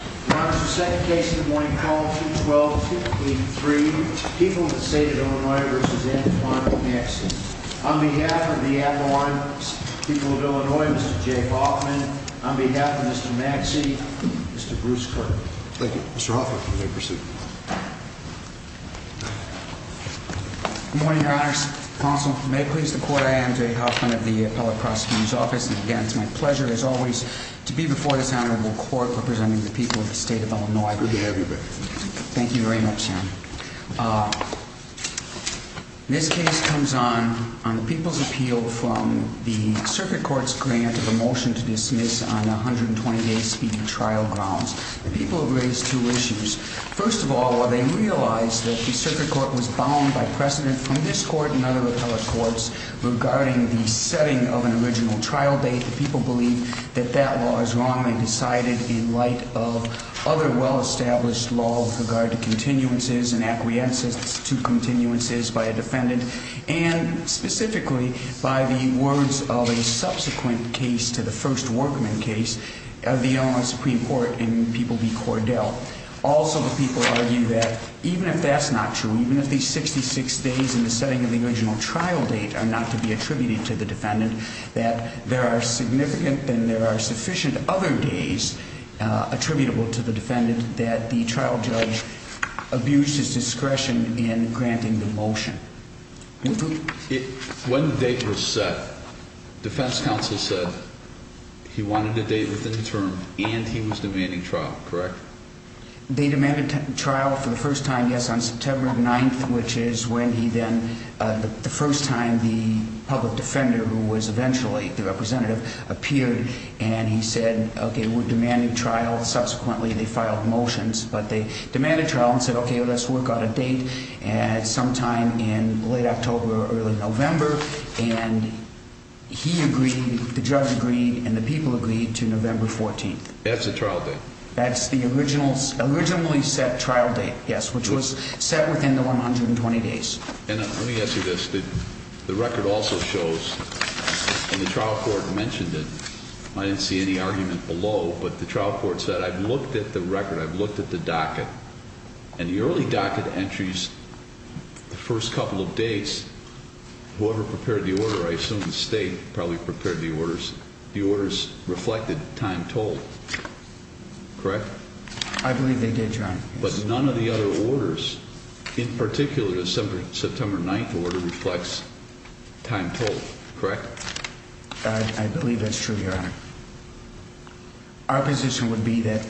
On behalf of the people of Illinois, Mr. Jay Hoffman, on behalf of Mr. Maxey, Mr. Bruce Kirk. Thank you. Mr. Hoffman, you may proceed. Good morning, Your Honors. Counsel, may it please the Court, I am Jay Hoffman of the Appellate Prosecutor's Office. And again, it's my pleasure, as always, to be before this Honorable Court representing the people of Illinois. Good to have you back. Thank you. Thank you very much, Your Honor. This case comes on the people's appeal from the Circuit Court's grant of a motion to dismiss on 120 day speedy trial grounds. The people have raised two issues. First of all, while they realize that the Circuit Court was bound by precedent from this Court and other appellate courts regarding the setting of an original trial date, the people argue that that law is wrongly decided in light of other well-established laws with regard to continuances and acquiescence to continuances by a defendant, and specifically by the words of a subsequent case to the first Workman case of the Illinois Supreme Court in People v. Cordell. Also, the people argue that even if that's not true, even if these 66 days in the setting of the original trial date are not to be attributed to the defendant, that there are significant other days attributable to the defendant that the trial judge abused his discretion in granting the motion. When the date was set, defense counsel said he wanted a date within the term and he was demanding trial. Correct? They demanded trial for the first time, yes, on September 9th, which is when he then, the first time, the public defender, who was eventually the representative, appeared and he said, okay, we're demanding trial. Subsequently, they filed motions, but they demanded trial and said, okay, let's work on a date sometime in late October or early November, and he agreed, the judge agreed, and the people agreed to November 14th. That's the trial date? That's the originally set trial date, yes, which was set within the 120 days. And let me ask you this, the record also shows, and the trial court mentioned it, I didn't see any argument below, but the trial court said, I've looked at the record, I've looked at the docket, and the early docket entries, the first couple of days, whoever prepared the order, I assume the state probably prepared the orders, the orders reflected time told, correct? I believe they did, Your Honor. But none of the other orders, in particular the September 9th order, reflects time told, correct? I believe that's true, Your Honor. Our position would be that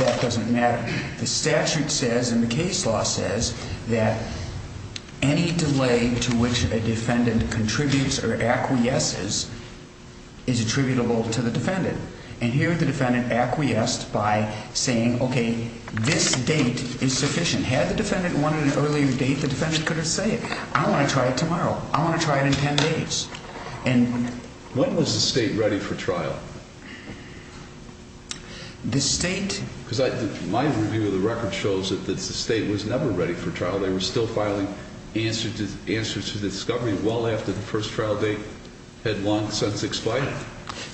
that doesn't matter. The statute says, and the case law says, that any delay to which a defendant contributes or acquiesces is attributable to the defendant. And here the defendant acquiesced by saying, okay, this date is sufficient. Had the defendant wanted an earlier date, the defendant could have said, I want to try it tomorrow. I want to try it in 10 days. When was the state ready for trial? The state? Because my review of the record shows that the state was never ready for trial. They were still filing answers to the discovery well after the first trial date had long since expired.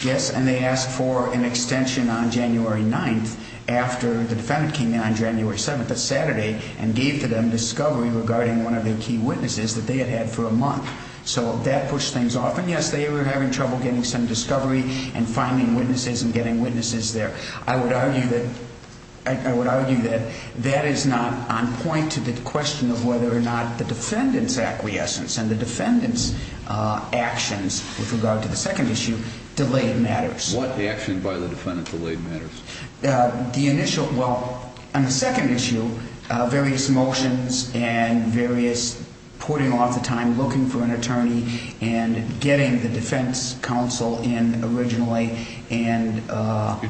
Yes, and they asked for an extension on January 9th after the defendant came in on January 7th, a Saturday, and gave to them discovery regarding one of their key witnesses that they had had for a month. So that pushed things off. And yes, they were having trouble getting some discovery and finding witnesses and getting witnesses there. I would argue that that is not on point to the question of whether or not the defendant's actions with regard to the second issue delayed matters. What action by the defendant delayed matters? The initial, well, on the second issue, various motions and various putting off the time, looking for an attorney, and getting the defense counsel in originally. You're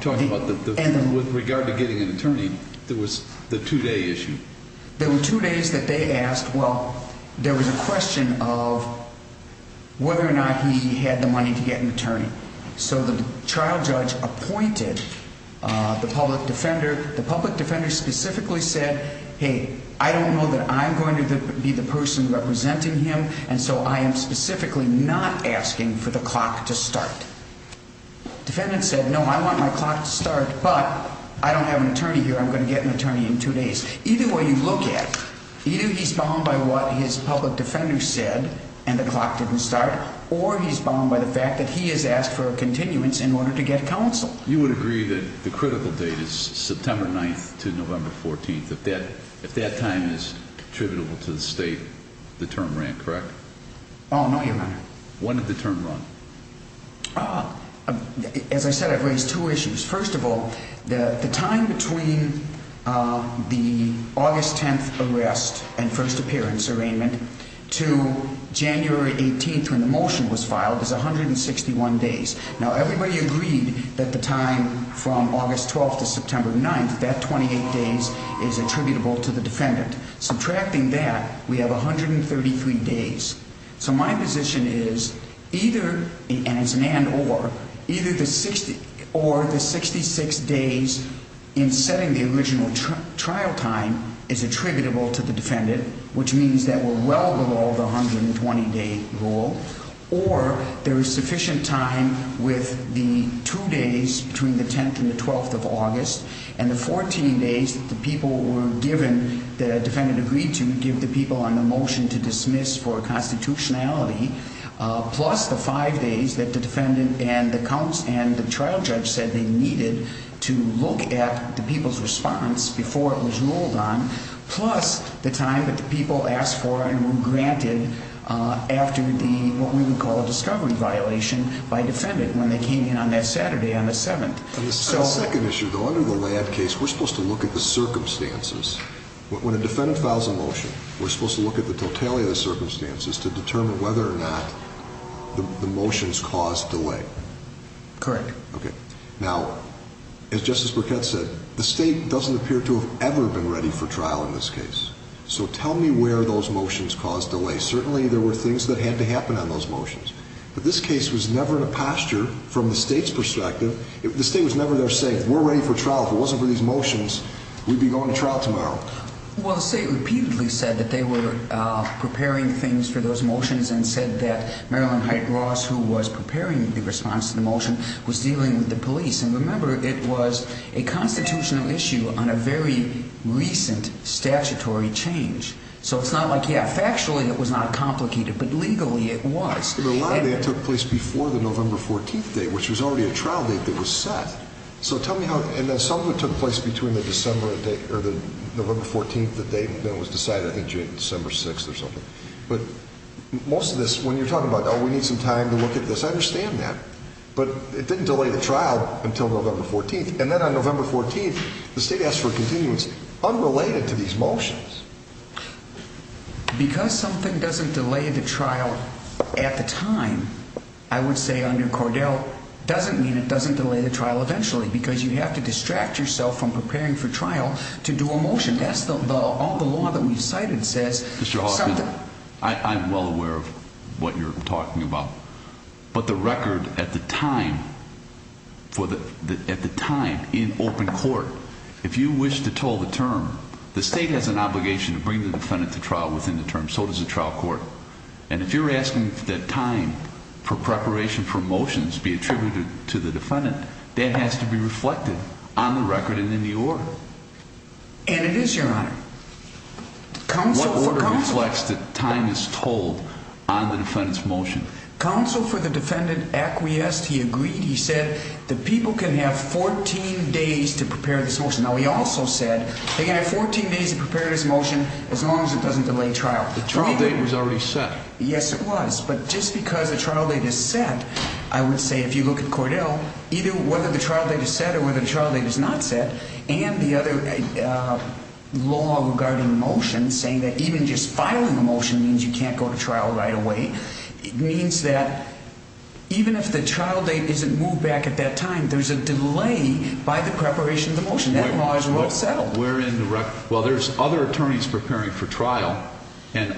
talking about the, with regard to getting an attorney, there was the two-day issue? There were two days that they asked, well, there was a question of whether or not he had the money to get an attorney. So the trial judge appointed the public defender. The public defender specifically said, hey, I don't know that I'm going to be the person representing him, and so I am specifically not asking for the clock to start. The defendant said, no, I want my clock to start, but I don't have an attorney here. I'm going to get an attorney in two days. Either way you look at it, either he's bound by what his public defender said and the clock didn't start, or he's bound by the fact that he has asked for a continuance in order to get counsel. You would agree that the critical date is September 9th to November 14th. If that time is attributable to the state, the term ran, correct? Oh, no, Your Honor. When did the term run? As I said, I've raised two issues. First of all, the time between the August 10th arrest and first appearance arraignment to January 18th when the motion was filed is 161 days. Now, everybody agreed that the time from August 12th to September 9th, that 28 days, is attributable to the defendant. Subtracting that, we have 133 days. So my position is either, and it's an and or, either the 60 or the 66 days in setting the original trial time is attributable to the defendant, which means that we're well below the 120-day rule, or there is sufficient time with the two days between the 10th and the 12th of August and the 14 days that the people were given, the defendant agreed to give the people on that day to dismiss for constitutionality, plus the five days that the defendant and the trial judge said they needed to look at the people's response before it was ruled on, plus the time that the people asked for and were granted after the, what we would call a discovery violation, by defendant when they came in on that Saturday on the 7th. The second issue, though, under the Ladd case, we're supposed to look at the circumstances. When a defendant files a motion, we're supposed to look at the totality of the circumstances to determine whether or not the motions caused delay. Correct. Okay. Now, as Justice Burkett said, the state doesn't appear to have ever been ready for trial in this case. So tell me where those motions caused delay. Certainly there were things that had to happen on those motions, but this case was never in a posture, from the state's perspective, the state was never there saying, we're ready for trial. If it wasn't for these motions, we'd be going to trial tomorrow. Well, the state repeatedly said that they were preparing things for those motions and said that Marilyn Hyte Ross, who was preparing the response to the motion, was dealing with the police. And remember, it was a constitutional issue on a very recent statutory change. So it's not like, yeah, factually it was not complicated, but legally it was. The Ladd case took place before the November 14th date, which was already a trial date that was set. So tell me how, and then some of it took place between the December date or the November 14th, the date that was decided, I think, December 6th or something. But most of this, when you're talking about, oh, we need some time to look at this, I understand that. But it didn't delay the trial until November 14th. And then on November 14th, the state asked for a continuance unrelated to these motions. Because something doesn't delay the trial at the time, I would say under Cordell, doesn't mean it doesn't delay the trial eventually because you have to distract yourself from preparing for trial to do a motion. That's the law that we've cited says something. Mr. Hoffman, I'm well aware of what you're talking about. But the record at the time in open court, if you wish to toll the term, the state has an obligation to bring the defendant to trial within the term, so does the trial court. And if you're asking that time for preparation for motions be attributed to the defendant, that has to be reflected on the record and in the order. And it is, Your Honor. What order reflects that time is tolled on the defendant's motion? Counsel for the defendant acquiesced. He agreed. He said the people can have 14 days to prepare this motion. Now, he also said they can have 14 days to prepare this motion as long as it doesn't delay trial. The trial date was already set. Yes, it was. But just because the trial date is set, I would say if you look at Cordell, either whether the trial date is set or whether the trial date is not set, and the other law regarding motions saying that even just filing a motion means you can't go to trial right away, it means that even if the trial date isn't moved back at that time, there's a delay by the preparation of the motion. That law is well settled. Well, there's other attorneys preparing for trial, and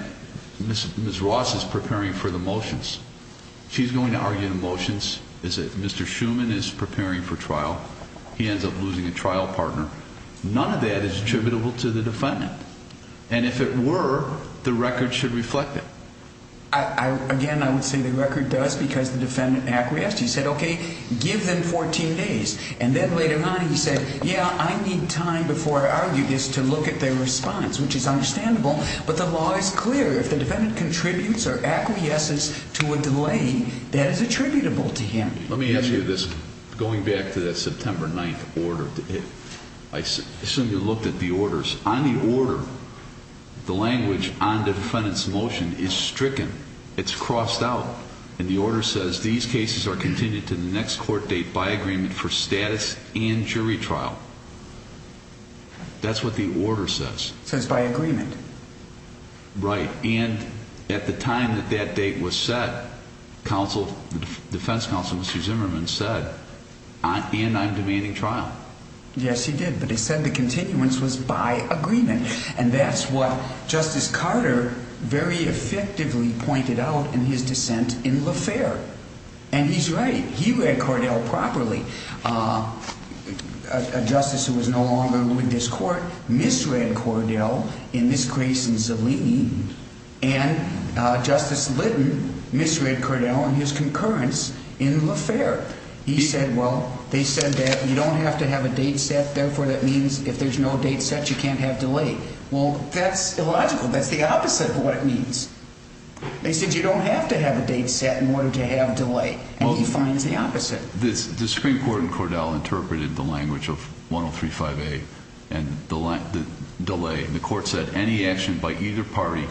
Ms. Ross is preparing for the motions. She's going to argue the motions. Mr. Schuman is preparing for trial. He ends up losing a trial partner. None of that is attributable to the defendant. And if it were, the record should reflect it. Again, I would say the record does because the defendant acquiesced. He said, okay, give them 14 days. And then later on he said, yeah, I need time before I argue this to look at their response, which is understandable. But the law is clear. If the defendant contributes or acquiesces to a delay, that is attributable to him. Let me ask you this. Going back to that September 9th order, I assume you looked at the orders. On the order, the language on defendant's motion is stricken. It's crossed out. And the order says these cases are continued to the next court date by agreement for status and jury trial. That's what the order says. It says by agreement. Right. And at the time that that date was set, the defense counsel, Mr. Zimmerman, said, and I'm demanding trial. Yes, he did. But he said the continuance was by agreement. And that's what Justice Carter very effectively pointed out in his dissent in LaFerre. And he's right. He read Cordell properly. A justice who was no longer in this court misread Cordell in this case in Zellin. And Justice Litton misread Cordell in his concurrence in LaFerre. He said, well, they said that you don't have to have a date set. Therefore, that means if there's no date set, you can't have delay. Well, that's illogical. That's the opposite of what it means. They said you don't have to have a date set in order to have delay. And he finds the opposite. The Supreme Court in Cordell interpreted the language of 1035A and the delay. And the court said any action by either party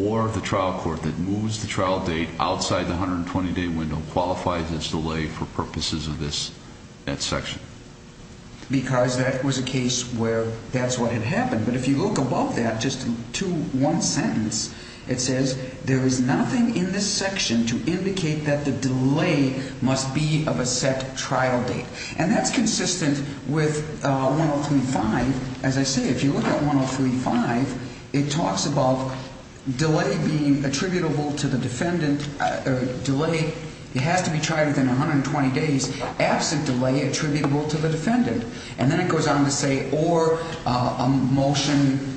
or the trial court that moves the trial date outside the 120-day window qualifies as delay for purposes of this section. Because that was a case where that's what had happened. But if you look above that, just to one sentence, it says there is nothing in this section to indicate that the delay must be of a set trial date. And that's consistent with 1035. As I say, if you look at 1035, it talks about delay being attributable to the defendant. Delay has to be tried within 120 days. Absent delay attributable to the defendant. And then it goes on to say or a motion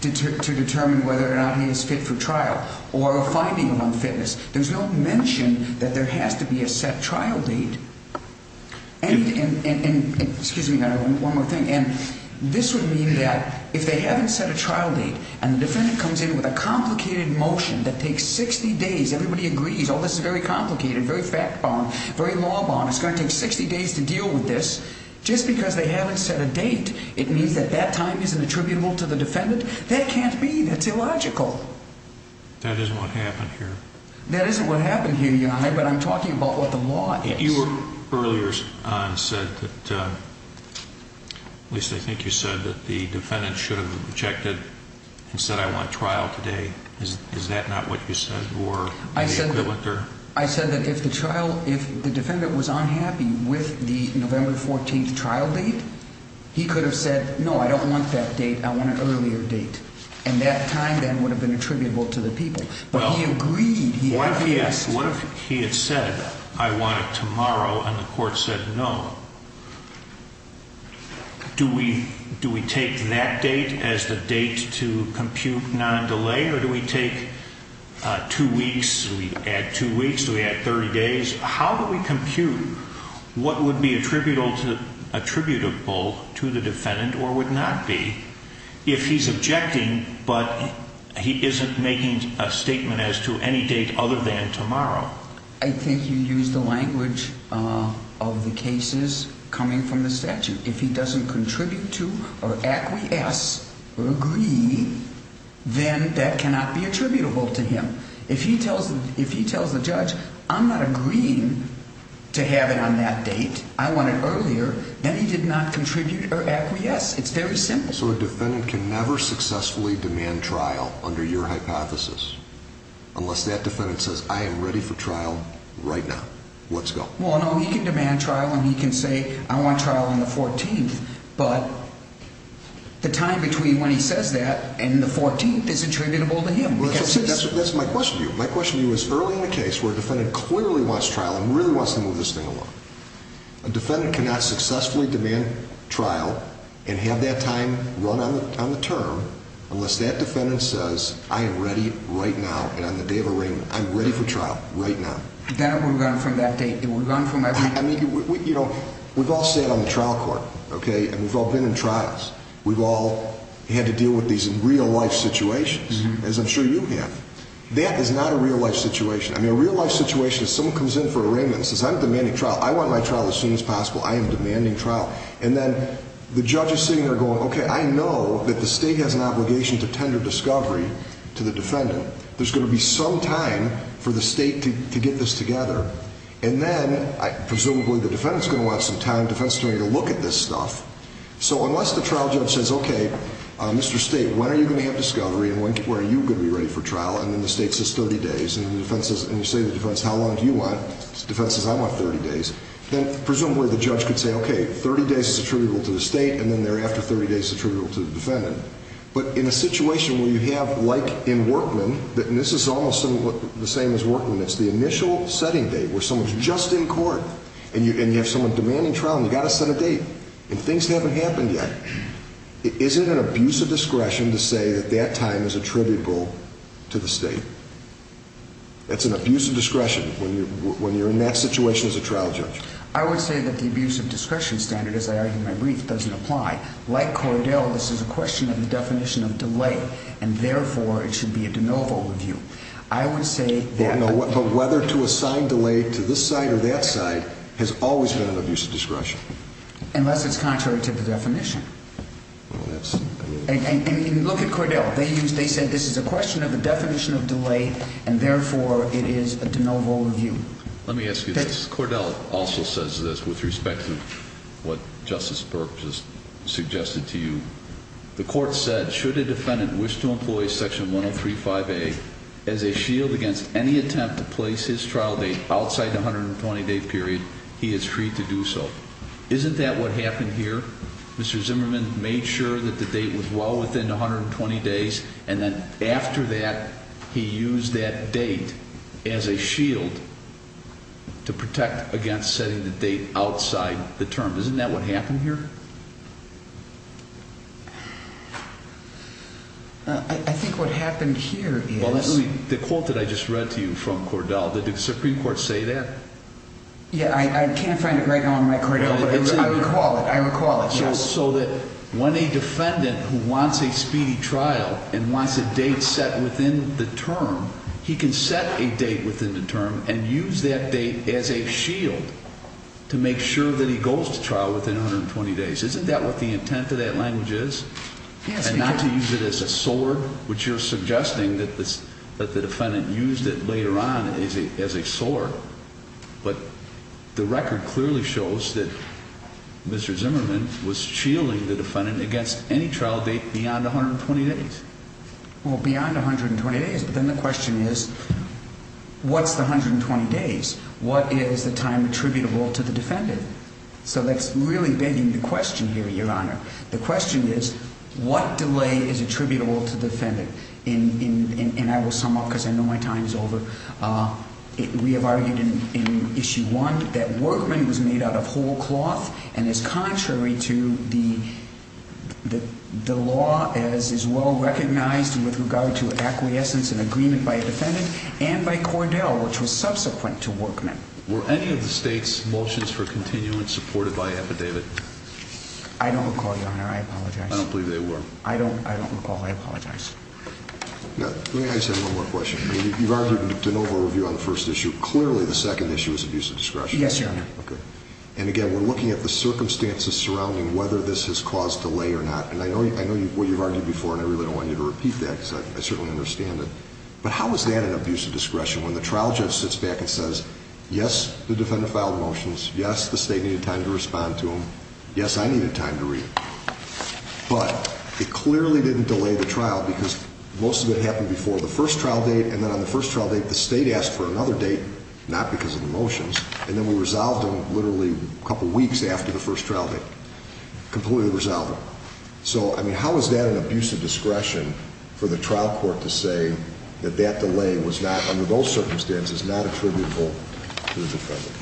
to determine whether or not he is fit for trial. Or a finding on fitness. There's no mention that there has to be a set trial date. And this would mean that if they haven't set a trial date and the defendant comes in with a complicated motion that takes 60 days, everybody agrees, oh, this is very complicated, very fact-bound, very law-bound. It's going to take 60 days to deal with this. Just because they haven't set a date, it means that that time isn't attributable to the defendant? That can't be. That's illogical. That isn't what happened here. That isn't what happened here, Your Honor, but I'm talking about what the law is. You earlier said that, at least I think you said that the defendant should have checked it and said I want trial today. Is that not what you said? I said that if the defendant was unhappy with the November 14th trial date, he could have said no, I don't want that date, I want an earlier date. And that time then would have been attributable to the people. But he agreed. What if he had said I want it tomorrow and the court said no? Do we take that date as the date to compute non-delay or do we take two weeks, do we add two weeks, do we add 30 days? How do we compute what would be attributable to the defendant or would not be if he's objecting but he isn't making a statement as to any date other than tomorrow? I think you used the language of the cases coming from the statute. If he doesn't contribute to or acquiesce or agree, then that cannot be attributable to him. If he tells the judge I'm not agreeing to have it on that date, I want it earlier, then he did not contribute or acquiesce. It's very simple. So a defendant can never successfully demand trial under your hypothesis unless that defendant says I am ready for trial right now. Let's go. Well, no, he can demand trial and he can say I want trial on the 14th. But the time between when he says that and the 14th is attributable to him. That's my question to you. My question to you is early in the case where a defendant clearly wants trial and really wants to move this thing along. A defendant cannot successfully demand trial and have that time run on the term unless that defendant says I am ready right now and on the day of arraignment I'm ready for trial right now. Then it would have gone from that date. It would have gone from that date. I mean, you know, we've all sat on the trial court, okay, and we've all been in trials. We've all had to deal with these in real life situations as I'm sure you have. That is not a real life situation. I mean, a real life situation is someone comes in for arraignment and says I'm demanding trial. I want my trial as soon as possible. I am demanding trial. And then the judge is sitting there going, okay, I know that the state has an obligation to tender discovery to the defendant. There's going to be some time for the state to get this together. And then presumably the defendant is going to want some time, defense attorney, to look at this stuff. So unless the trial judge says, okay, Mr. State, when are you going to have discovery and when are you going to be ready for trial? And then the state says 30 days. And you say to the defense, how long do you want? The defense says I want 30 days. Then presumably the judge could say, okay, 30 days is attributable to the state, and then thereafter 30 days is attributable to the defendant. But in a situation where you have, like in Workman, and this is almost the same as Workman, it's the initial setting date where someone is just in court and you have someone demanding trial, and you've got to set a date and things haven't happened yet. Isn't it an abuse of discretion to say that that time is attributable to the state? That's an abuse of discretion when you're in that situation as a trial judge. I would say that the abuse of discretion standard, as I argued in my brief, doesn't apply. Like Cordell, this is a question of the definition of delay, and therefore it should be a de novo review. I would say that. But whether to assign delay to this side or that side has always been an abuse of discretion. Unless it's contrary to the definition. And look at Cordell. They said this is a question of the definition of delay, and therefore it is a de novo review. Let me ask you this. Cordell also says this with respect to what Justice Burke just suggested to you. The court said, should a defendant wish to employ Section 1035A as a shield against any attempt to place his trial date outside the 120-day period, he is free to do so. Isn't that what happened here? Mr. Zimmerman made sure that the date was well within 120 days, and then after that, he used that date as a shield to protect against setting the date outside the term. Isn't that what happened here? I think what happened here is... Well, the quote that I just read to you from Cordell, did the Supreme Court say that? Yeah, I can't find it right now in my record, but I recall it. So that when a defendant who wants a speedy trial and wants a date set within the term, he can set a date within the term and use that date as a shield to make sure that he goes to trial within 120 days. Isn't that what the intent of that language is? Yes, because... And not to use it as a sword, which you're suggesting that the defendant used it later on as a sword. But the record clearly shows that Mr. Zimmerman was shielding the defendant against any trial date beyond 120 days. Well, beyond 120 days, but then the question is, what's the 120 days? What is the time attributable to the defendant? So that's really begging the question here, Your Honor. The question is, what delay is attributable to the defendant? And I will sum up because I know my time is over. We have argued in Issue 1 that Workman was made out of whole cloth and is contrary to the law as is well recognized with regard to acquiescence and agreement by a defendant and by Cordell, which was subsequent to Workman. Were any of the state's motions for continuance supported by Epidavid? I don't recall, Your Honor. I apologize. I don't believe they were. I don't recall. I apologize. Let me ask you one more question. You've argued in De Novo Review on the first issue. Clearly, the second issue is abuse of discretion. Yes, Your Honor. Okay. And again, we're looking at the circumstances surrounding whether this has caused delay or not. And I know what you've argued before, and I really don't want you to repeat that because I certainly understand it. But how is that an abuse of discretion when the trial judge sits back and says, Yes, the defendant filed motions. Yes, the state needed time to respond to them. Yes, I needed time to read them. But it clearly didn't delay the trial because most of it happened before the first trial date, and then on the first trial date, the state asked for another date, not because of the motions, and then we resolved them literally a couple weeks after the first trial date. Completely resolved them. So, I mean, how is that an abuse of discretion for the trial court to say that that delay was not, under those circumstances, not attributable to the defendant?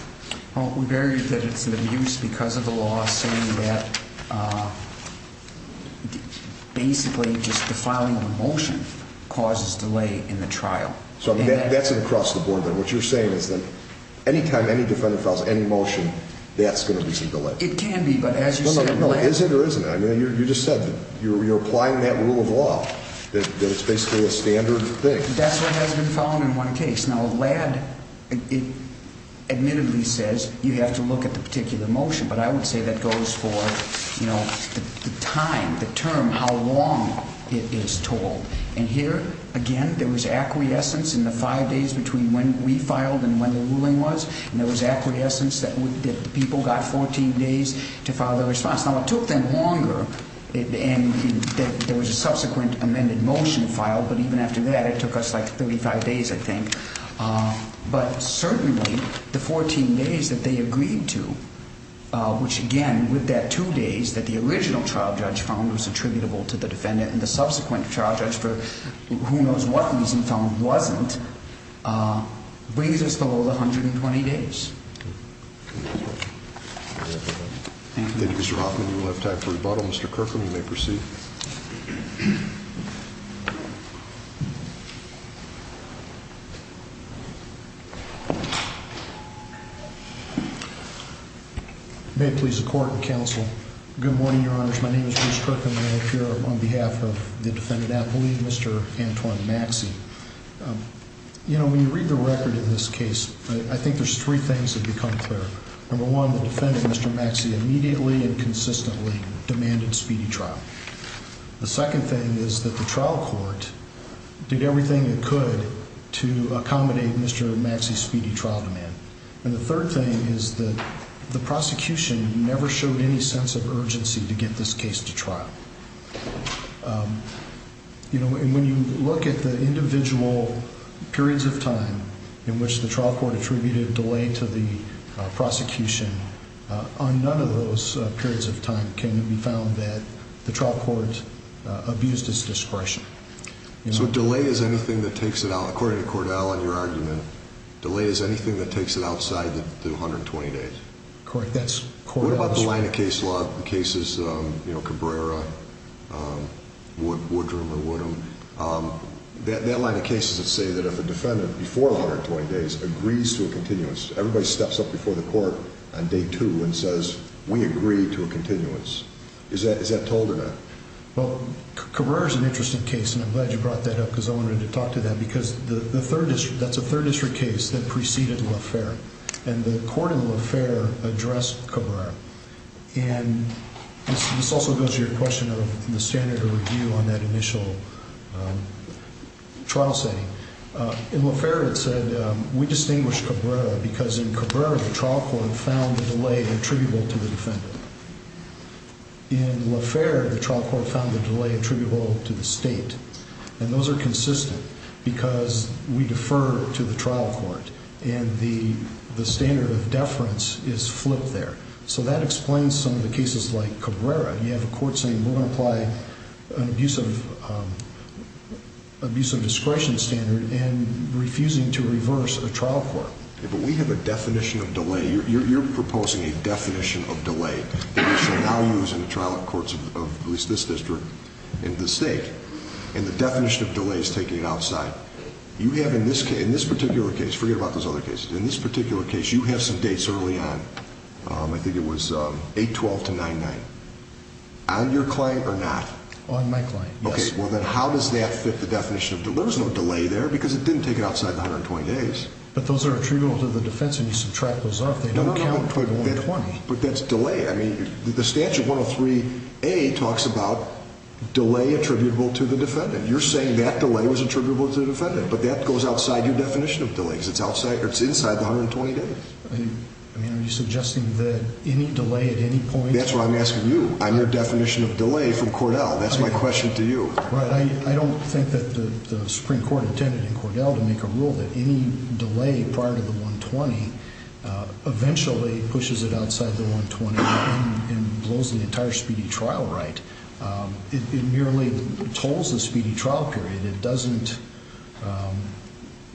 Well, we've argued that it's an abuse because of the law saying that basically just the filing of a motion causes delay in the trial. So that's across the board, then. What you're saying is that any time any defendant files any motion, that's going to be some delay. It can be, but as you said, the law… Is it or isn't it? I mean, you just said that you're applying that rule of law, that it's basically a standard thing. That's what has been found in one case. Now, LAD, it admittedly says you have to look at the particular motion, but I would say that goes for, you know, the time, the term, how long it is told. And here, again, there was acquiescence in the five days between when we filed and when the ruling was, and there was acquiescence that the people got 14 days to file their response. Now, it took them longer, and there was a subsequent amended motion filed, but even after that, it took us like 35 days, I think. But certainly, the 14 days that they agreed to, which, again, with that two days that the original trial judge found was attributable to the defendant and the subsequent trial judge for who knows what reason found wasn't, brings us below the 120 days. Thank you, Mr. Hoffman. We'll have time for rebuttal. Mr. Kirkham, you may proceed. May it please the Court and Counsel, good morning, Your Honors. My name is Bruce Kirkham, and I appear on behalf of the defendant, I believe, Mr. Antoine Maxey. You know, when you read the record in this case, I think there's three things that become clear. Number one, the defendant, Mr. Maxey, immediately and consistently demanded speedy trial. The second thing is that the trial court did everything it could to accommodate Mr. Maxey's speedy trial demand. And the third thing is that the prosecution never showed any sense of urgency to get this case to trial. You know, and when you look at the individual periods of time in which the trial court attributed delay to the prosecution, on none of those periods of time can it be found that the trial court abused its discretion. So delay is anything that takes it out, according to Cordell in your argument, delay is anything that takes it outside the 120 days. Correct, that's Cordell's statement. What about the line of case law cases, you know, Cabrera, Woodrum or Woodham, that line of cases that say that if a defendant, before 120 days, agrees to a continuance, everybody steps up before the court on day two and says, we agree to a continuance. Is that told or not? Well, Cabrera is an interesting case and I'm glad you brought that up because I wanted to talk to that because that's a third district case that preceded Lafferre. And the court in Lafferre addressed Cabrera. And this also goes to your question of the standard of review on that initial trial setting. In Lafferre it said, we distinguished Cabrera because in Cabrera the trial court found the delay attributable to the defendant. In Lafferre the trial court found the delay attributable to the state. And those are consistent because we defer to the trial court and the standard of deference is flipped there. So that explains some of the cases like Cabrera. You have a court saying we're going to apply an abuse of discretion standard and refusing to reverse a trial court. But we have a definition of delay. You're proposing a definition of delay that we should now use in the trial courts of at least this district and the state. And the definition of delay is taking it outside. You have in this particular case, forget about those other cases. In this particular case you have some dates early on. I think it was 8-12 to 9-9. On your client or not? On my client, yes. Okay, well then how does that fit the definition of delay? There was no delay there because it didn't take it outside the 120 days. But those are attributable to the defense and you subtract those off. No, no, no, but that's delay. I mean the statute 103A talks about delay attributable to the defendant. You're saying that delay was attributable to the defendant. But that goes outside your definition of delay because it's inside the 120 days. I mean are you suggesting that any delay at any point? That's what I'm asking you. I'm your definition of delay from Cordell. That's my question to you. I don't think that the Supreme Court intended in Cordell to make a rule that any delay prior to the 120 eventually pushes it outside the 120 and blows the entire speedy trial right. It merely tolls the speedy trial period. It doesn't,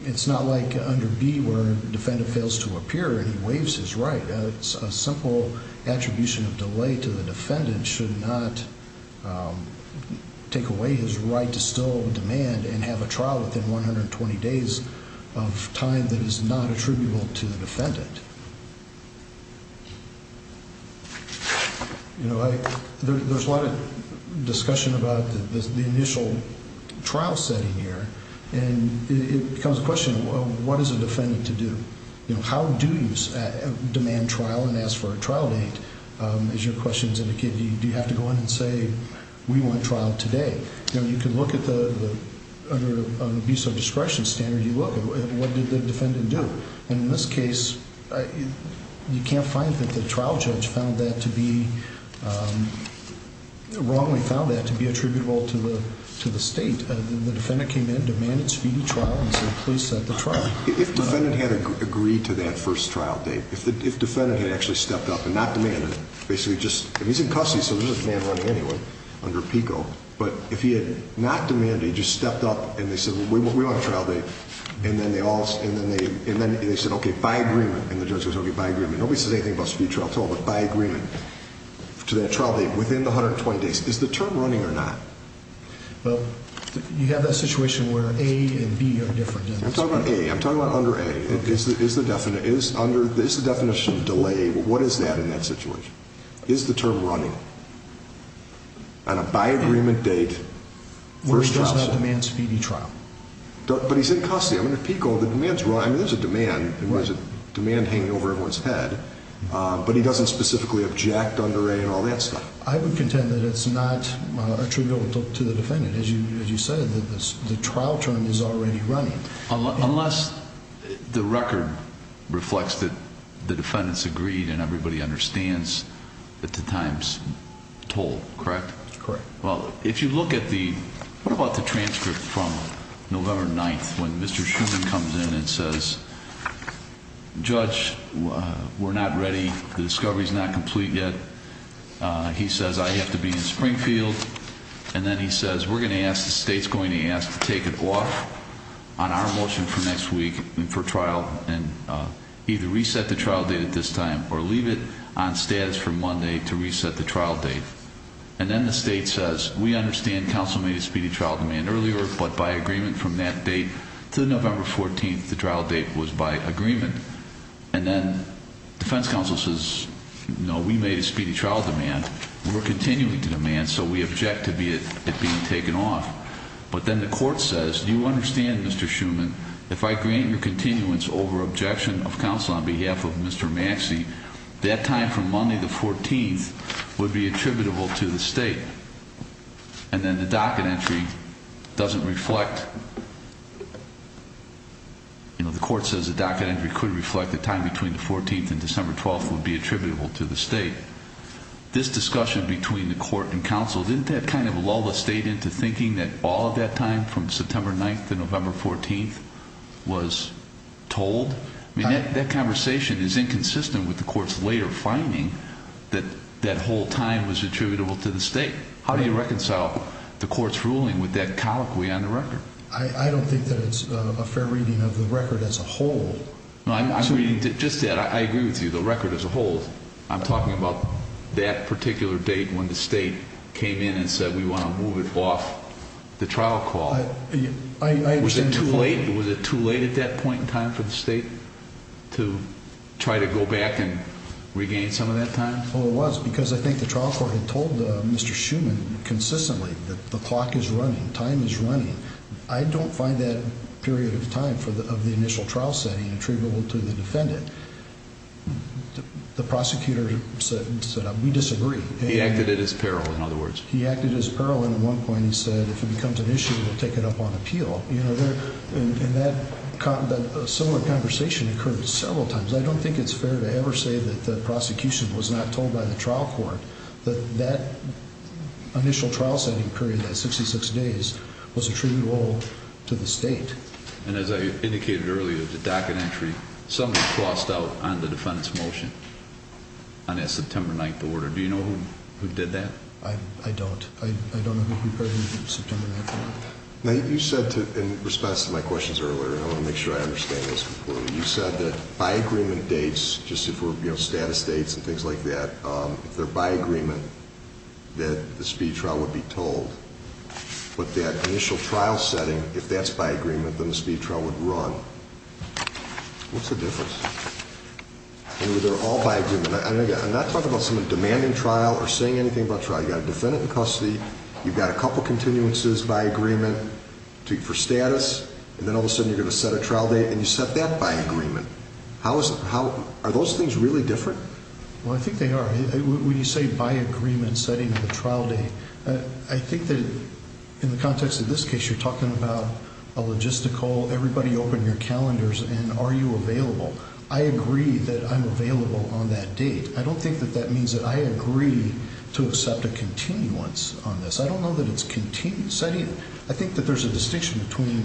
it's not like under B where a defendant fails to appear and he waives his right. A simple attribution of delay to the defendant should not take away his right to still demand and have a trial within 120 days of time that is not attributable to the defendant. There's a lot of discussion about the initial trial setting here. And it becomes a question of what is a defendant to do? How do you demand trial and ask for a trial date? As your questions indicate, do you have to go in and say we want trial today? You can look at the, under an abuse of discretion standard, you look at what did the defendant do? And in this case you can't find that the trial judge found that to be, wrongly found that to be attributable to the state. The defendant came in, demanded speedy trial and said please set the trial. If the defendant had agreed to that first trial date, if the defendant had actually stepped up and not demanded, basically just, and he's in custody so there's no demand running anyway under PICO, but if he had not demanded, he just stepped up and they said we want a trial date, and then they all, and then they said okay, by agreement. And the judge goes okay, by agreement. Nobody says anything about speedy trial at all, but by agreement to that trial date within the 120 days. Is the term running or not? Well, you have that situation where A and B are different. I'm talking about A, I'm talking about under A. Is the definition delay, what is that in that situation? Is the term running? On a by agreement date, first trial. Where does that demand speedy trial? But he's in custody. I mean at PICO the demand's running. I mean there's a demand, there's a demand hanging over everyone's head, but he doesn't specifically object under A and all that stuff. I would contend that it's not attributable to the defendant. As you said, the trial term is already running. Unless the record reflects that the defendants agreed and everybody understands that the time's told, correct? Correct. Well, if you look at the, what about the transcript from November 9th when Mr. Shuman comes in and says judge, we're not ready, the discovery's not complete yet. He says I have to be in Springfield. And then he says we're going to ask, the state's going to ask to take it off on our motion for next week and for trial and either reset the trial date at this time or leave it on status for Monday to reset the trial date. And then the state says we understand counsel made a speedy trial demand earlier, but by agreement from that date to November 14th, the trial date was by agreement. And then defense counsel says no, we made a speedy trial demand. We're continuing to demand, so we object to it being taken off. But then the court says you understand, Mr. Shuman, if I grant your continuance over objection of counsel on behalf of Mr. Maxey, that time from Monday the 14th would be attributable to the state. And then the docket entry doesn't reflect, you know, the court says the docket entry could reflect the time between the 14th and December 12th would be attributable to the state. This discussion between the court and counsel, didn't that kind of lull the state into thinking that all of that time from September 9th to November 14th was told? I mean, that conversation is inconsistent with the court's later finding that that whole time was attributable to the state. How do you reconcile the court's ruling with that colloquy on the record? I don't think that it's a fair reading of the record as a whole. Just that, I agree with you, the record as a whole. I'm talking about that particular date when the state came in and said we want to move it off the trial call. Was it too late at that point in time for the state to try to go back and regain some of that time? Well, it was because I think the trial court had told Mr. Shuman consistently that the clock is running, time is running. I don't find that period of time of the initial trial setting attributable to the defendant. The prosecutor said we disagree. He acted at his peril, in other words. He acted at his peril, and at one point he said if it becomes an issue, we'll take it up on appeal. And that similar conversation occurred several times. I don't think it's fair to ever say that the prosecution was not told by the trial court that that initial trial setting period, that 66 days, was attributable to the state. And as I indicated earlier, the docket entry, somebody crossed out on the defendant's motion on that September 9th order. Do you know who did that? I don't. I don't know who prepared the September 9th order. Now, you said in response to my questions earlier, and I want to make sure I understand this completely, you said that by agreement dates, just if we're, you know, status dates and things like that, if they're by agreement, that the speed trial would be told. But that initial trial setting, if that's by agreement, then the speed trial would run. What's the difference? They're all by agreement. I'm not talking about someone demanding trial or saying anything about trial. You've got a defendant in custody, you've got a couple continuances by agreement for status, and then all of a sudden you're going to set a trial date, and you set that by agreement. How is it? Are those things really different? Well, I think they are. When you say by agreement setting of the trial date, I think that in the context of this case, you're talking about a logistical, everybody open your calendars and are you available. I agree that I'm available on that date. I don't think that that means that I agree to accept a continuance on this. I don't know that it's setting. I think that there's a distinction between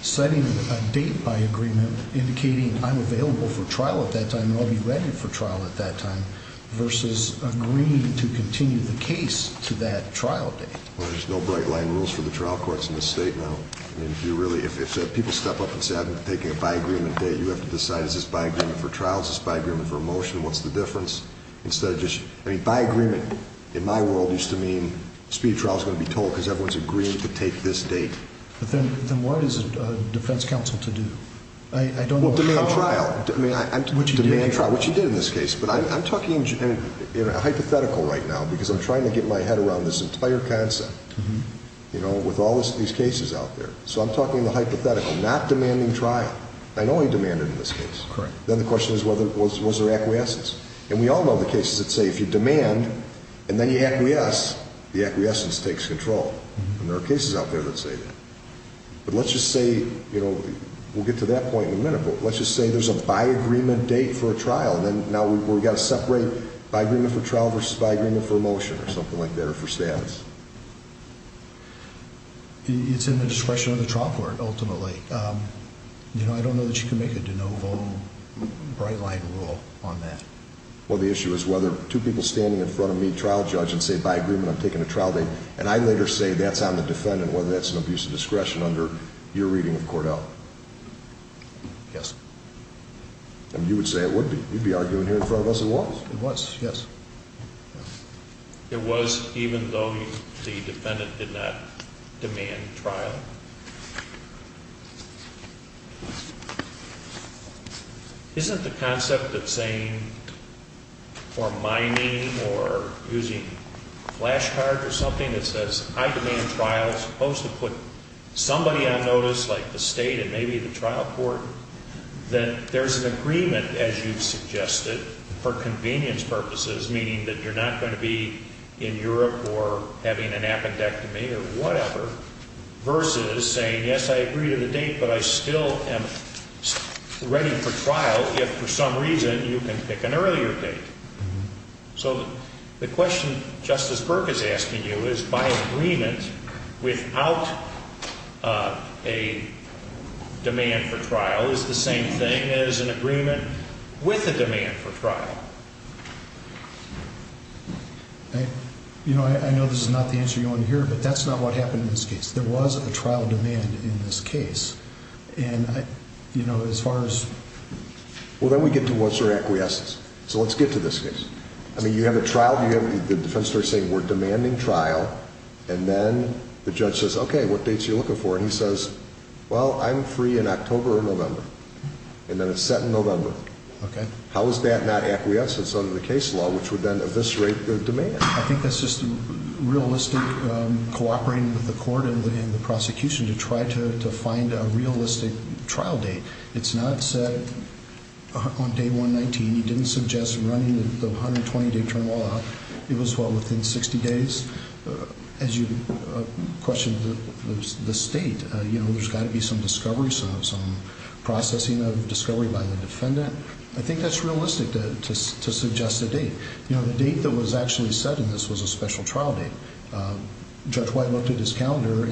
setting a date by agreement, indicating I'm available for trial at that time and I'll be ready for trial at that time, versus agreeing to continue the case to that trial date. There's no bright line rules for the trial courts in this state now. If people step up and say, I'm taking a by agreement date, you have to decide, is this by agreement for trial, is this by agreement for a motion, what's the difference? By agreement, in my world, used to mean speed of trial is going to be total because everyone is agreeing to take this date. Then what is a defense counsel to do? Demand trial. Demand trial, which you did in this case, but I'm talking hypothetical right now because I'm trying to get my head around this entire concept with all these cases out there. So I'm talking the hypothetical, not demanding trial. I know he demanded in this case. Then the question is was there acquiescence? And we all know the cases that say if you demand and then you acquiesce, the acquiescence takes control. And there are cases out there that say that. But let's just say, you know, we'll get to that point in a minute, but let's just say there's a by agreement date for a trial. Now we've got to separate by agreement for trial versus by agreement for a motion or something like that or for status. It's in the discretion of the trial court ultimately. You know, I don't know that you can make a de novo bright line rule on that. Well, the issue is whether two people standing in front of me, trial judge, and say by agreement I'm taking a trial date, and I later say that's on the defendant whether that's an abuse of discretion under your reading of Cordell. Yes. And you would say it would be. You'd be arguing here in front of us it was. It was, yes. It was even though the defendant did not demand trial? Isn't the concept of saying or mining or using flash cards or something that says I demand trial as opposed to put somebody on notice like the State and maybe the trial court, that there's an agreement, as you've suggested, for convenience purposes, meaning that you're not going to be in Europe or having an appendectomy or whatever, versus saying, yes, I agree to the date, but I still am ready for trial if for some reason you can pick an earlier date. So the question Justice Burke is asking you is by agreement without a demand for trial is the same thing as an agreement with a demand for trial. You know, I know this is not the answer you want to hear, but that's not what happened in this case. There was a trial demand in this case. And, you know, as far as. Well, then we get to what's your acquiescence. So let's get to this case. I mean, you have a trial, you have the defense attorney saying we're demanding trial, and then the judge says, okay, what dates are you looking for? And he says, well, I'm free in October or November. And then it's set in November. Okay. How is that not acquiescence under the case law, which would then eviscerate the demand? I think that's just realistic cooperating with the court and the prosecution to try to find a realistic trial date. It's not set on day 119. He didn't suggest running the 120-day term law. It was, well, within 60 days. As you questioned the state, you know, there's got to be some discovery, some processing of discovery by the defendant. I think that's realistic to suggest a date. You know, the date that was actually set in this was a special trial date. Judge White looked at his calendar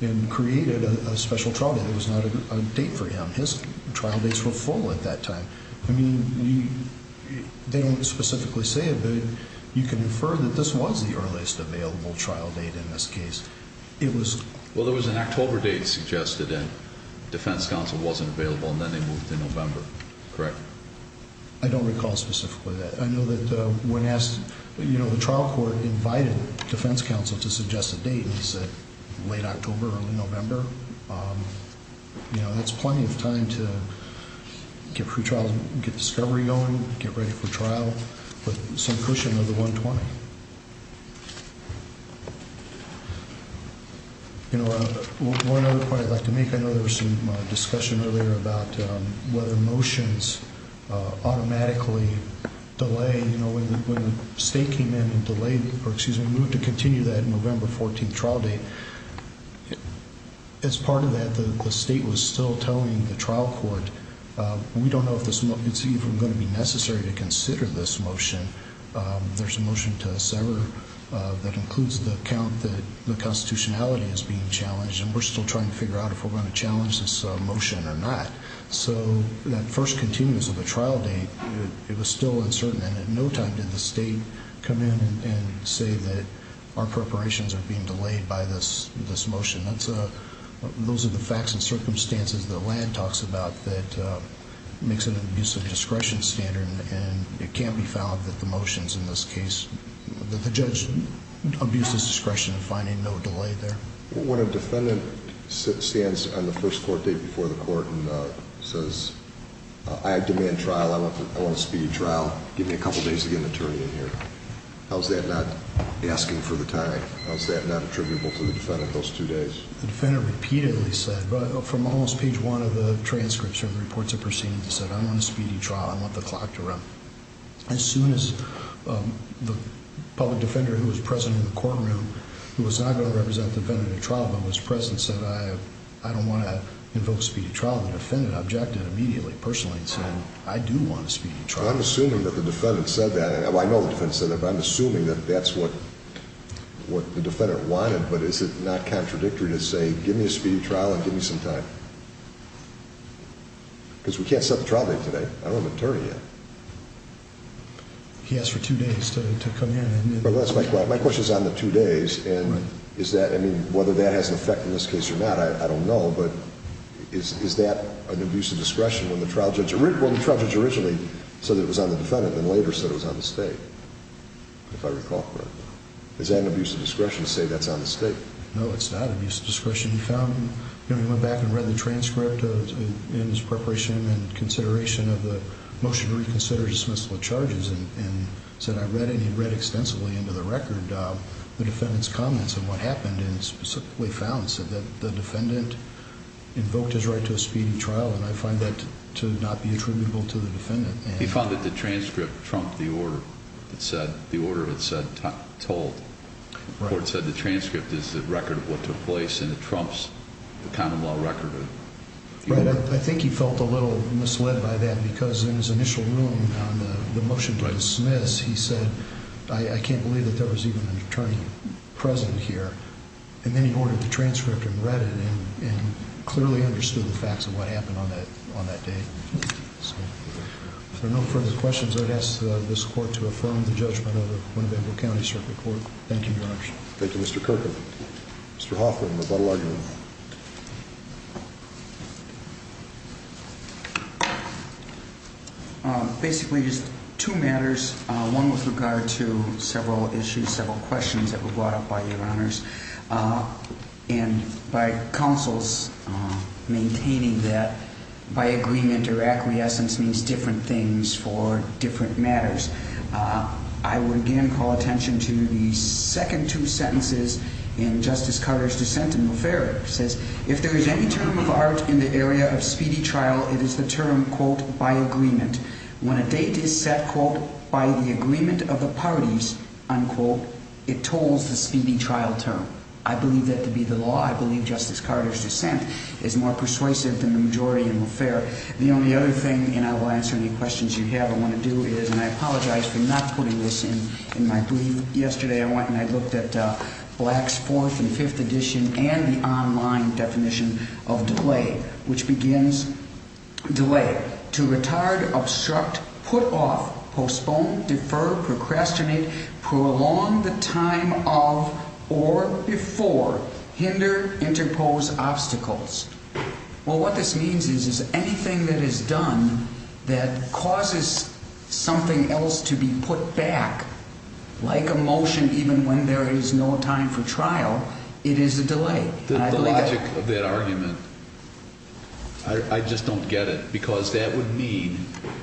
and created a special trial date. It was not a date for him. His trial dates were full at that time. I mean, they don't specifically say it, but you can infer that this was the earliest available trial date in this case. It was. Well, there was an October date suggested, and defense counsel wasn't available, and then they moved to November. Correct. I don't recall specifically that. I know that when asked, you know, the trial court invited defense counsel to suggest a date, and he said late October, early November. You know, that's plenty of time to get pre-trials, get discovery going, get ready for trial, but some cushion of the 120. You know, one other point I'd like to make, I know there was some discussion earlier about whether motions automatically delay, you know, when the state came in and delayed, or excuse me, moved to continue that November 14th trial date. As part of that, the state was still telling the trial court, we don't know if it's even going to be necessary to consider this motion. There's a motion to sever that includes the count that the constitutionality is being challenged, and we're still trying to figure out if we're going to delay it or not. So that first continuous of the trial date, it was still uncertain, and at no time did the state come in and say that our preparations are being delayed by this motion. Those are the facts and circumstances that Land talks about that makes an abuse of discretion standard, and it can't be found that the motions in this case, that the judge abused his discretion in finding no delay there. When a defendant stands on the first court date before the court and says, I demand trial, I want a speedy trial, give me a couple days to get an attorney in here, how's that not asking for the time? How's that not attributable to the defendant those two days? The defendant repeatedly said, from almost page one of the transcripts or reports of proceedings, he said, I want a speedy trial, I want the clock to run. As soon as the public defender who was present in the courtroom, who was not going to represent the defendant in a trial, but was present, said, I don't want to invoke speedy trial. The defendant objected immediately, personally, and said, I do want a speedy trial. I'm assuming that the defendant said that. I know the defendant said that, but I'm assuming that that's what the defendant wanted, but is it not contradictory to say, give me a speedy trial and give me some time? Because we can't set the trial date today. I don't have an attorney yet. He asked for two days to come in. My question is on the two days, and is that, I mean, whether that has an effect in this case or not, I don't know, but is that an abuse of discretion when the trial judge originally said it was on the defendant and then later said it was on the state, if I recall correctly? Is that an abuse of discretion to say that's on the state? No, it's not abuse of discretion. He went back and read the transcript in his preparation and consideration of the record, the defendant's comments and what happened, and specifically found that the defendant invoked his right to a speedy trial, and I find that to not be attributable to the defendant. He found that the transcript trumped the order that said, the order had said told. Right. The court said the transcript is the record of what took place, and it trumps the common law record. Right. I think he felt a little misled by that because in his initial ruling on the motion to dismiss, he said, I can't believe that there was even an attorney present here. And then he ordered the transcript and read it and clearly understood the facts of what happened on that day. So if there are no further questions, I would ask this court to affirm the judgment of the Winnebago County Circuit Court. Thank you, Your Honor. Thank you, Mr. Kirk. Mr. Hoffman, rebuttal argument. Basically, there's two matters, one with regard to several issues, several questions that were brought up by Your Honors. And by counsels maintaining that by agreement or acquiescence means different things for different matters. I would again call attention to the second two sentences in Justice Carter's dissent in Lafayette. It says, if there is any term of art in the area of speedy trial, it is the term, quote, by agreement. When a date is set, quote, by the agreement of the parties, unquote, it tolls the speedy trial term. I believe that to be the law. I believe Justice Carter's dissent is more persuasive than the majority in Lafayette. The only other thing, and I will answer any questions you have I want to do, is, and I apologize for not putting this in my brief yesterday. I went and I looked at Black's fourth and fifth edition and the online definition of delay, which begins, delay, to retard, obstruct, put off, postpone, defer, procrastinate, prolong the time of or before, hinder, interpose obstacles. Well, what this means is anything that is done that causes something else to be put back, like a motion even when there is no time for trial, it is a delay. The logic of that argument, I just don't get it. Because that would mean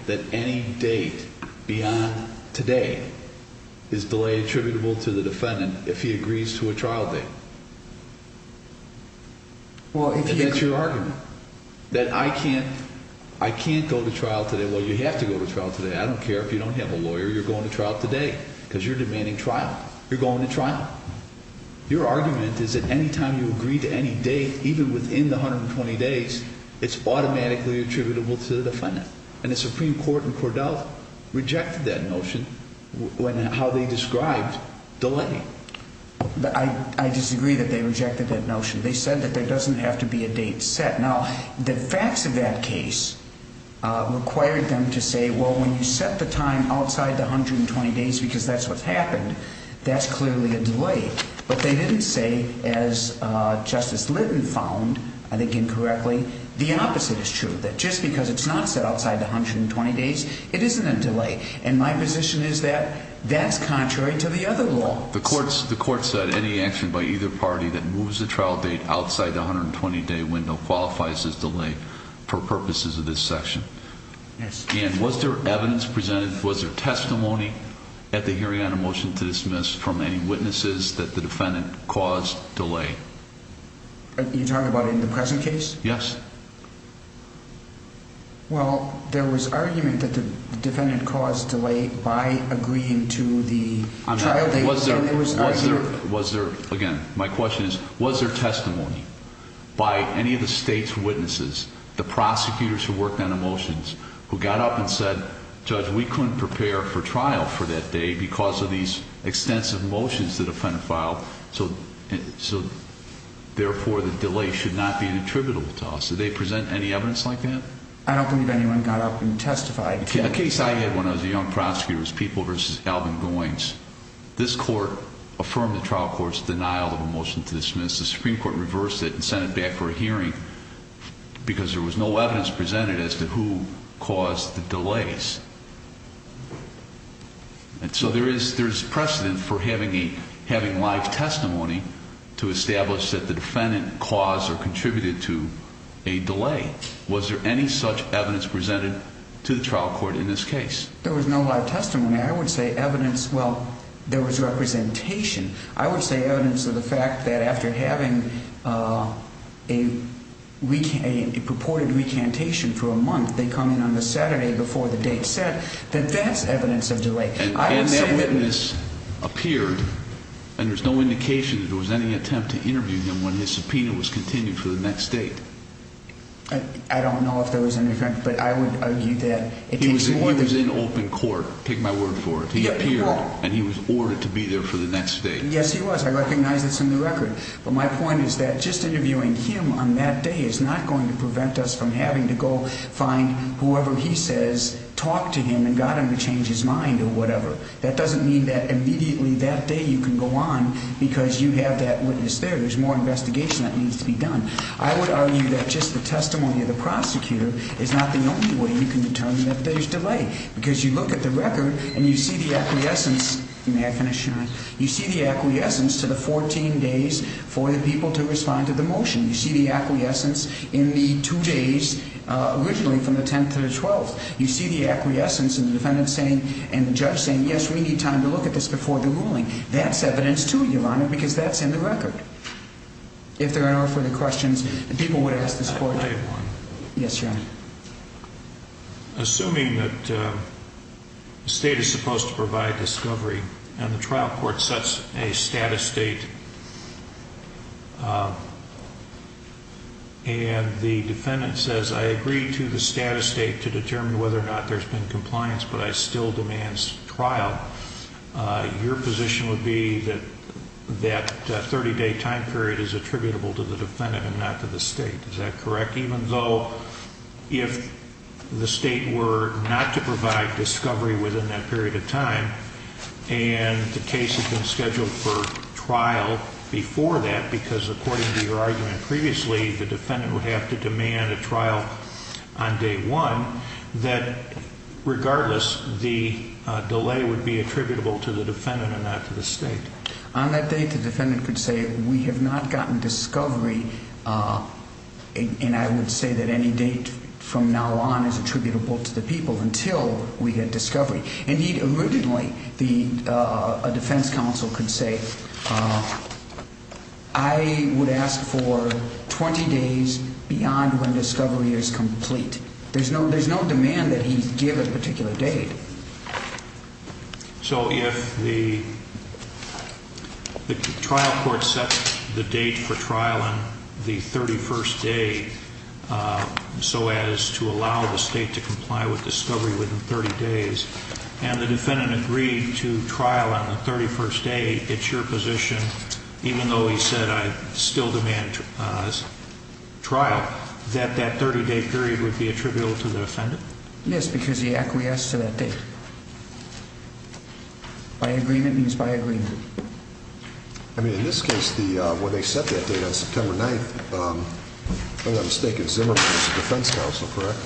that any date beyond today is delay attributable to the defendant if he agrees to a trial date. And that's your argument. That I can't go to trial today. Well, you have to go to trial today. I don't care if you don't have a lawyer, you're going to trial today because you're demanding trial. You're going to trial. Your argument is that any time you agree to any date, even within the 120 days, it's automatically attributable to the defendant. And the Supreme Court in Cordell rejected that notion when how they described delay. I disagree that they rejected that notion. They said that there doesn't have to be a date set. Now, the facts of that case required them to say, well, when you set the time outside the 120 days because that's what's happened, that's clearly a delay. But they didn't say, as Justice Litton found, I think incorrectly, the opposite is true, that just because it's not set outside the 120 days, it isn't a delay. And my position is that that's contrary to the other law. The court said any action by either party that moves the trial date outside the 120-day window qualifies as delay for purposes of this section. And was there evidence presented, was there testimony at the hearing on a motion to dismiss from any witnesses that the defendant caused delay? You're talking about in the present case? Yes. Well, there was argument that the defendant caused delay by agreeing to the trial date. Again, my question is, was there testimony by any of the state's witnesses, the prosecutors who worked on the motions, who got up and said, Judge, we couldn't prepare for trial for that day because of these extensive motions the defendant filed, so therefore the delay should not be attributable to us. Did they present any evidence like that? I don't believe anyone got up and testified. A case I had when I was a young prosecutor was People v. Alvin Goines. This court affirmed the trial court's denial of a motion to dismiss. The Supreme Court reversed it and sent it back for a hearing because there was no evidence presented as to who caused the delays. And so there is precedent for having live testimony to establish that the defendant caused or contributed to a delay. Was there any such evidence presented to the trial court in this case? There was no live testimony. I would say evidence, well, there was representation. I would say evidence of the fact that after having a purported recantation for a month, they come in on the Saturday before the date set, that that's evidence of delay. And that witness appeared, and there's no indication that there was any attempt to interview him when his subpoena was continued for the next date. I don't know if there was any attempt, but I would argue that it takes more than that. He was in open court. Take my word for it. He appeared, and he was ordered to be there for the next date. Yes, he was. I recognize that's in the record. But my point is that just interviewing him on that day is not going to prevent us from having to go find whoever he says, talk to him, and got him to change his mind or whatever. That doesn't mean that immediately that day you can go on because you have that witness there. There's more investigation that needs to be done. I would argue that just the testimony of the prosecutor is not the only way you can determine that there's delay. Because you look at the record, and you see the acquiescence to the 14 days for the people to respond to the motion. You see the acquiescence in the two days originally from the 10th to the 12th. You see the acquiescence in the defendant saying and the judge saying, yes, we need time to look at this before the ruling. That's evidence, too, Your Honor, because that's in the record. If there are no further questions, people would ask the support team. I have one. Yes, Your Honor. Assuming that the state is supposed to provide discovery, and the trial court sets a status date, and the defendant says, I agree to the status date to determine whether or not there's been compliance, but I still demand trial, your position would be that that 30-day time period is attributable to the defendant and not to the state. Is that correct? Even though if the state were not to provide discovery within that period of time and the case had been scheduled for trial before that, because according to your argument previously, the defendant would have to demand a trial on day one, that regardless the delay would be attributable to the defendant and not to the state. On that date, the defendant could say, we have not gotten discovery, and I would say that any date from now on is attributable to the people until we get discovery. And he'd originally, a defense counsel could say, I would ask for 20 days beyond when discovery is complete. There's no demand that he give a particular date. So if the trial court sets the date for trial on the 31st day, so as to allow the state to comply with discovery within 30 days, and the defendant agreed to trial on the 31st day, it's your position, even though he said, I still demand trial, that that 30-day period would be attributable to the defendant? Yes, because he acquiesced to that date. By agreement means by agreement. I mean, in this case, when they set that date on September 9th, if I'm not mistaken, Zimmerman was the defense counsel, correct?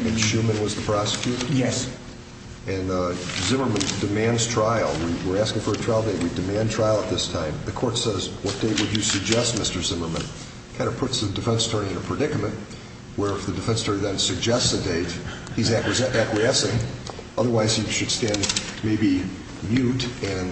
And Schuman was the prosecutor? Yes. And Zimmerman demands trial. We're asking for a trial date. We demand trial at this time. The court says, what date would you suggest, Mr. Zimmerman? It kind of puts the defense attorney in a predicament, where if the defense attorney then suggests a date, he's acquiescing. Otherwise, he should stand maybe mute and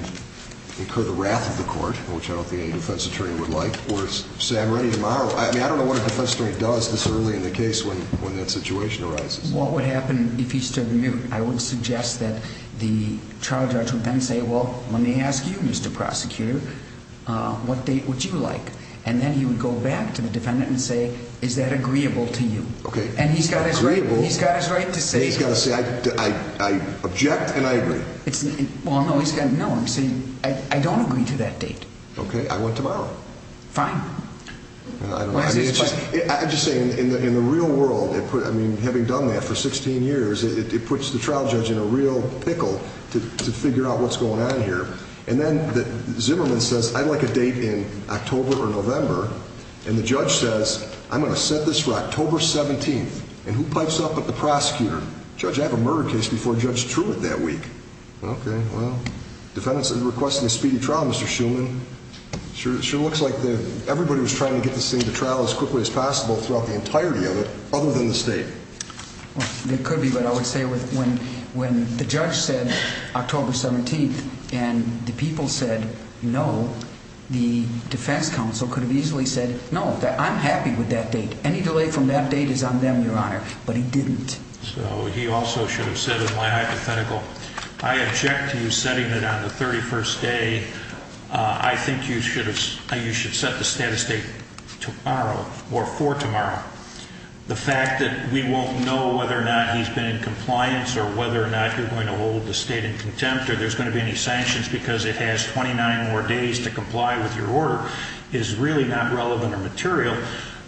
incur the wrath of the court, which I don't think any defense attorney would like, or say, I'm ready tomorrow. I mean, I don't know what a defense attorney does this early in the case when that situation arises. What would happen if he stood mute? I would suggest that the trial judge would then say, well, let me ask you, Mr. Prosecutor, what date would you like? And then he would go back to the defendant and say, is that agreeable to you? Okay. And he's got his right to say so. He's got to say, I object and I agree. Well, no, he's got to say, I don't agree to that date. Okay. I want tomorrow. Fine. I don't know. I'm just saying, in the real world, I mean, having done that for 16 years, it puts the trial judge in a real pickle to figure out what's going on here. And then Zimmerman says, I'd like a date in October or November. And the judge says, I'm going to set this for October 17th. And who pipes up but the prosecutor? Judge, I have a murder case before Judge Truitt that week. Okay. Well, defendants are requesting a speedy trial, Mr. Shuman. It sure looks like everybody was trying to get this thing to trial as quickly as possible throughout the entirety of it, other than the state. It could be, but I would say when the judge said October 17th and the people said no, the defense counsel could have easily said, no, I'm happy with that date. Any delay from that date is on them, Your Honor. But he didn't. So he also should have said in my hypothetical, I object to you setting it on the 31st day. I think you should set the status date tomorrow or for tomorrow. The fact that we won't know whether or not he's been in compliance or whether or not you're going to hold the state in contempt or there's going to be any sanctions because it has 29 more days to comply with your order is really not relevant or material.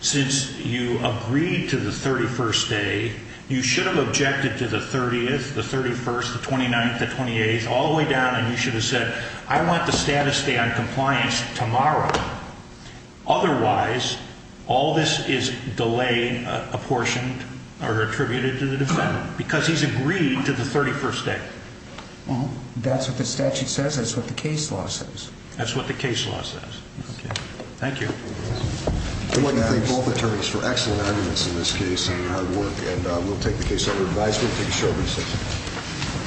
Since you agreed to the 31st day, you should have objected to the 30th, the 31st, the 29th, the 28th, all the way down, and you should have said, I want the status date on compliance tomorrow. Otherwise, all this is delay apportioned or attributed to the defendant because he's agreed to the 31st day. Well, that's what the statute says. That's what the case law says. That's what the case law says. Okay. Thank you. I'd like to thank both attorneys for excellent arguments in this case and hard work, and we'll take the case under advice. We'll take a short recess.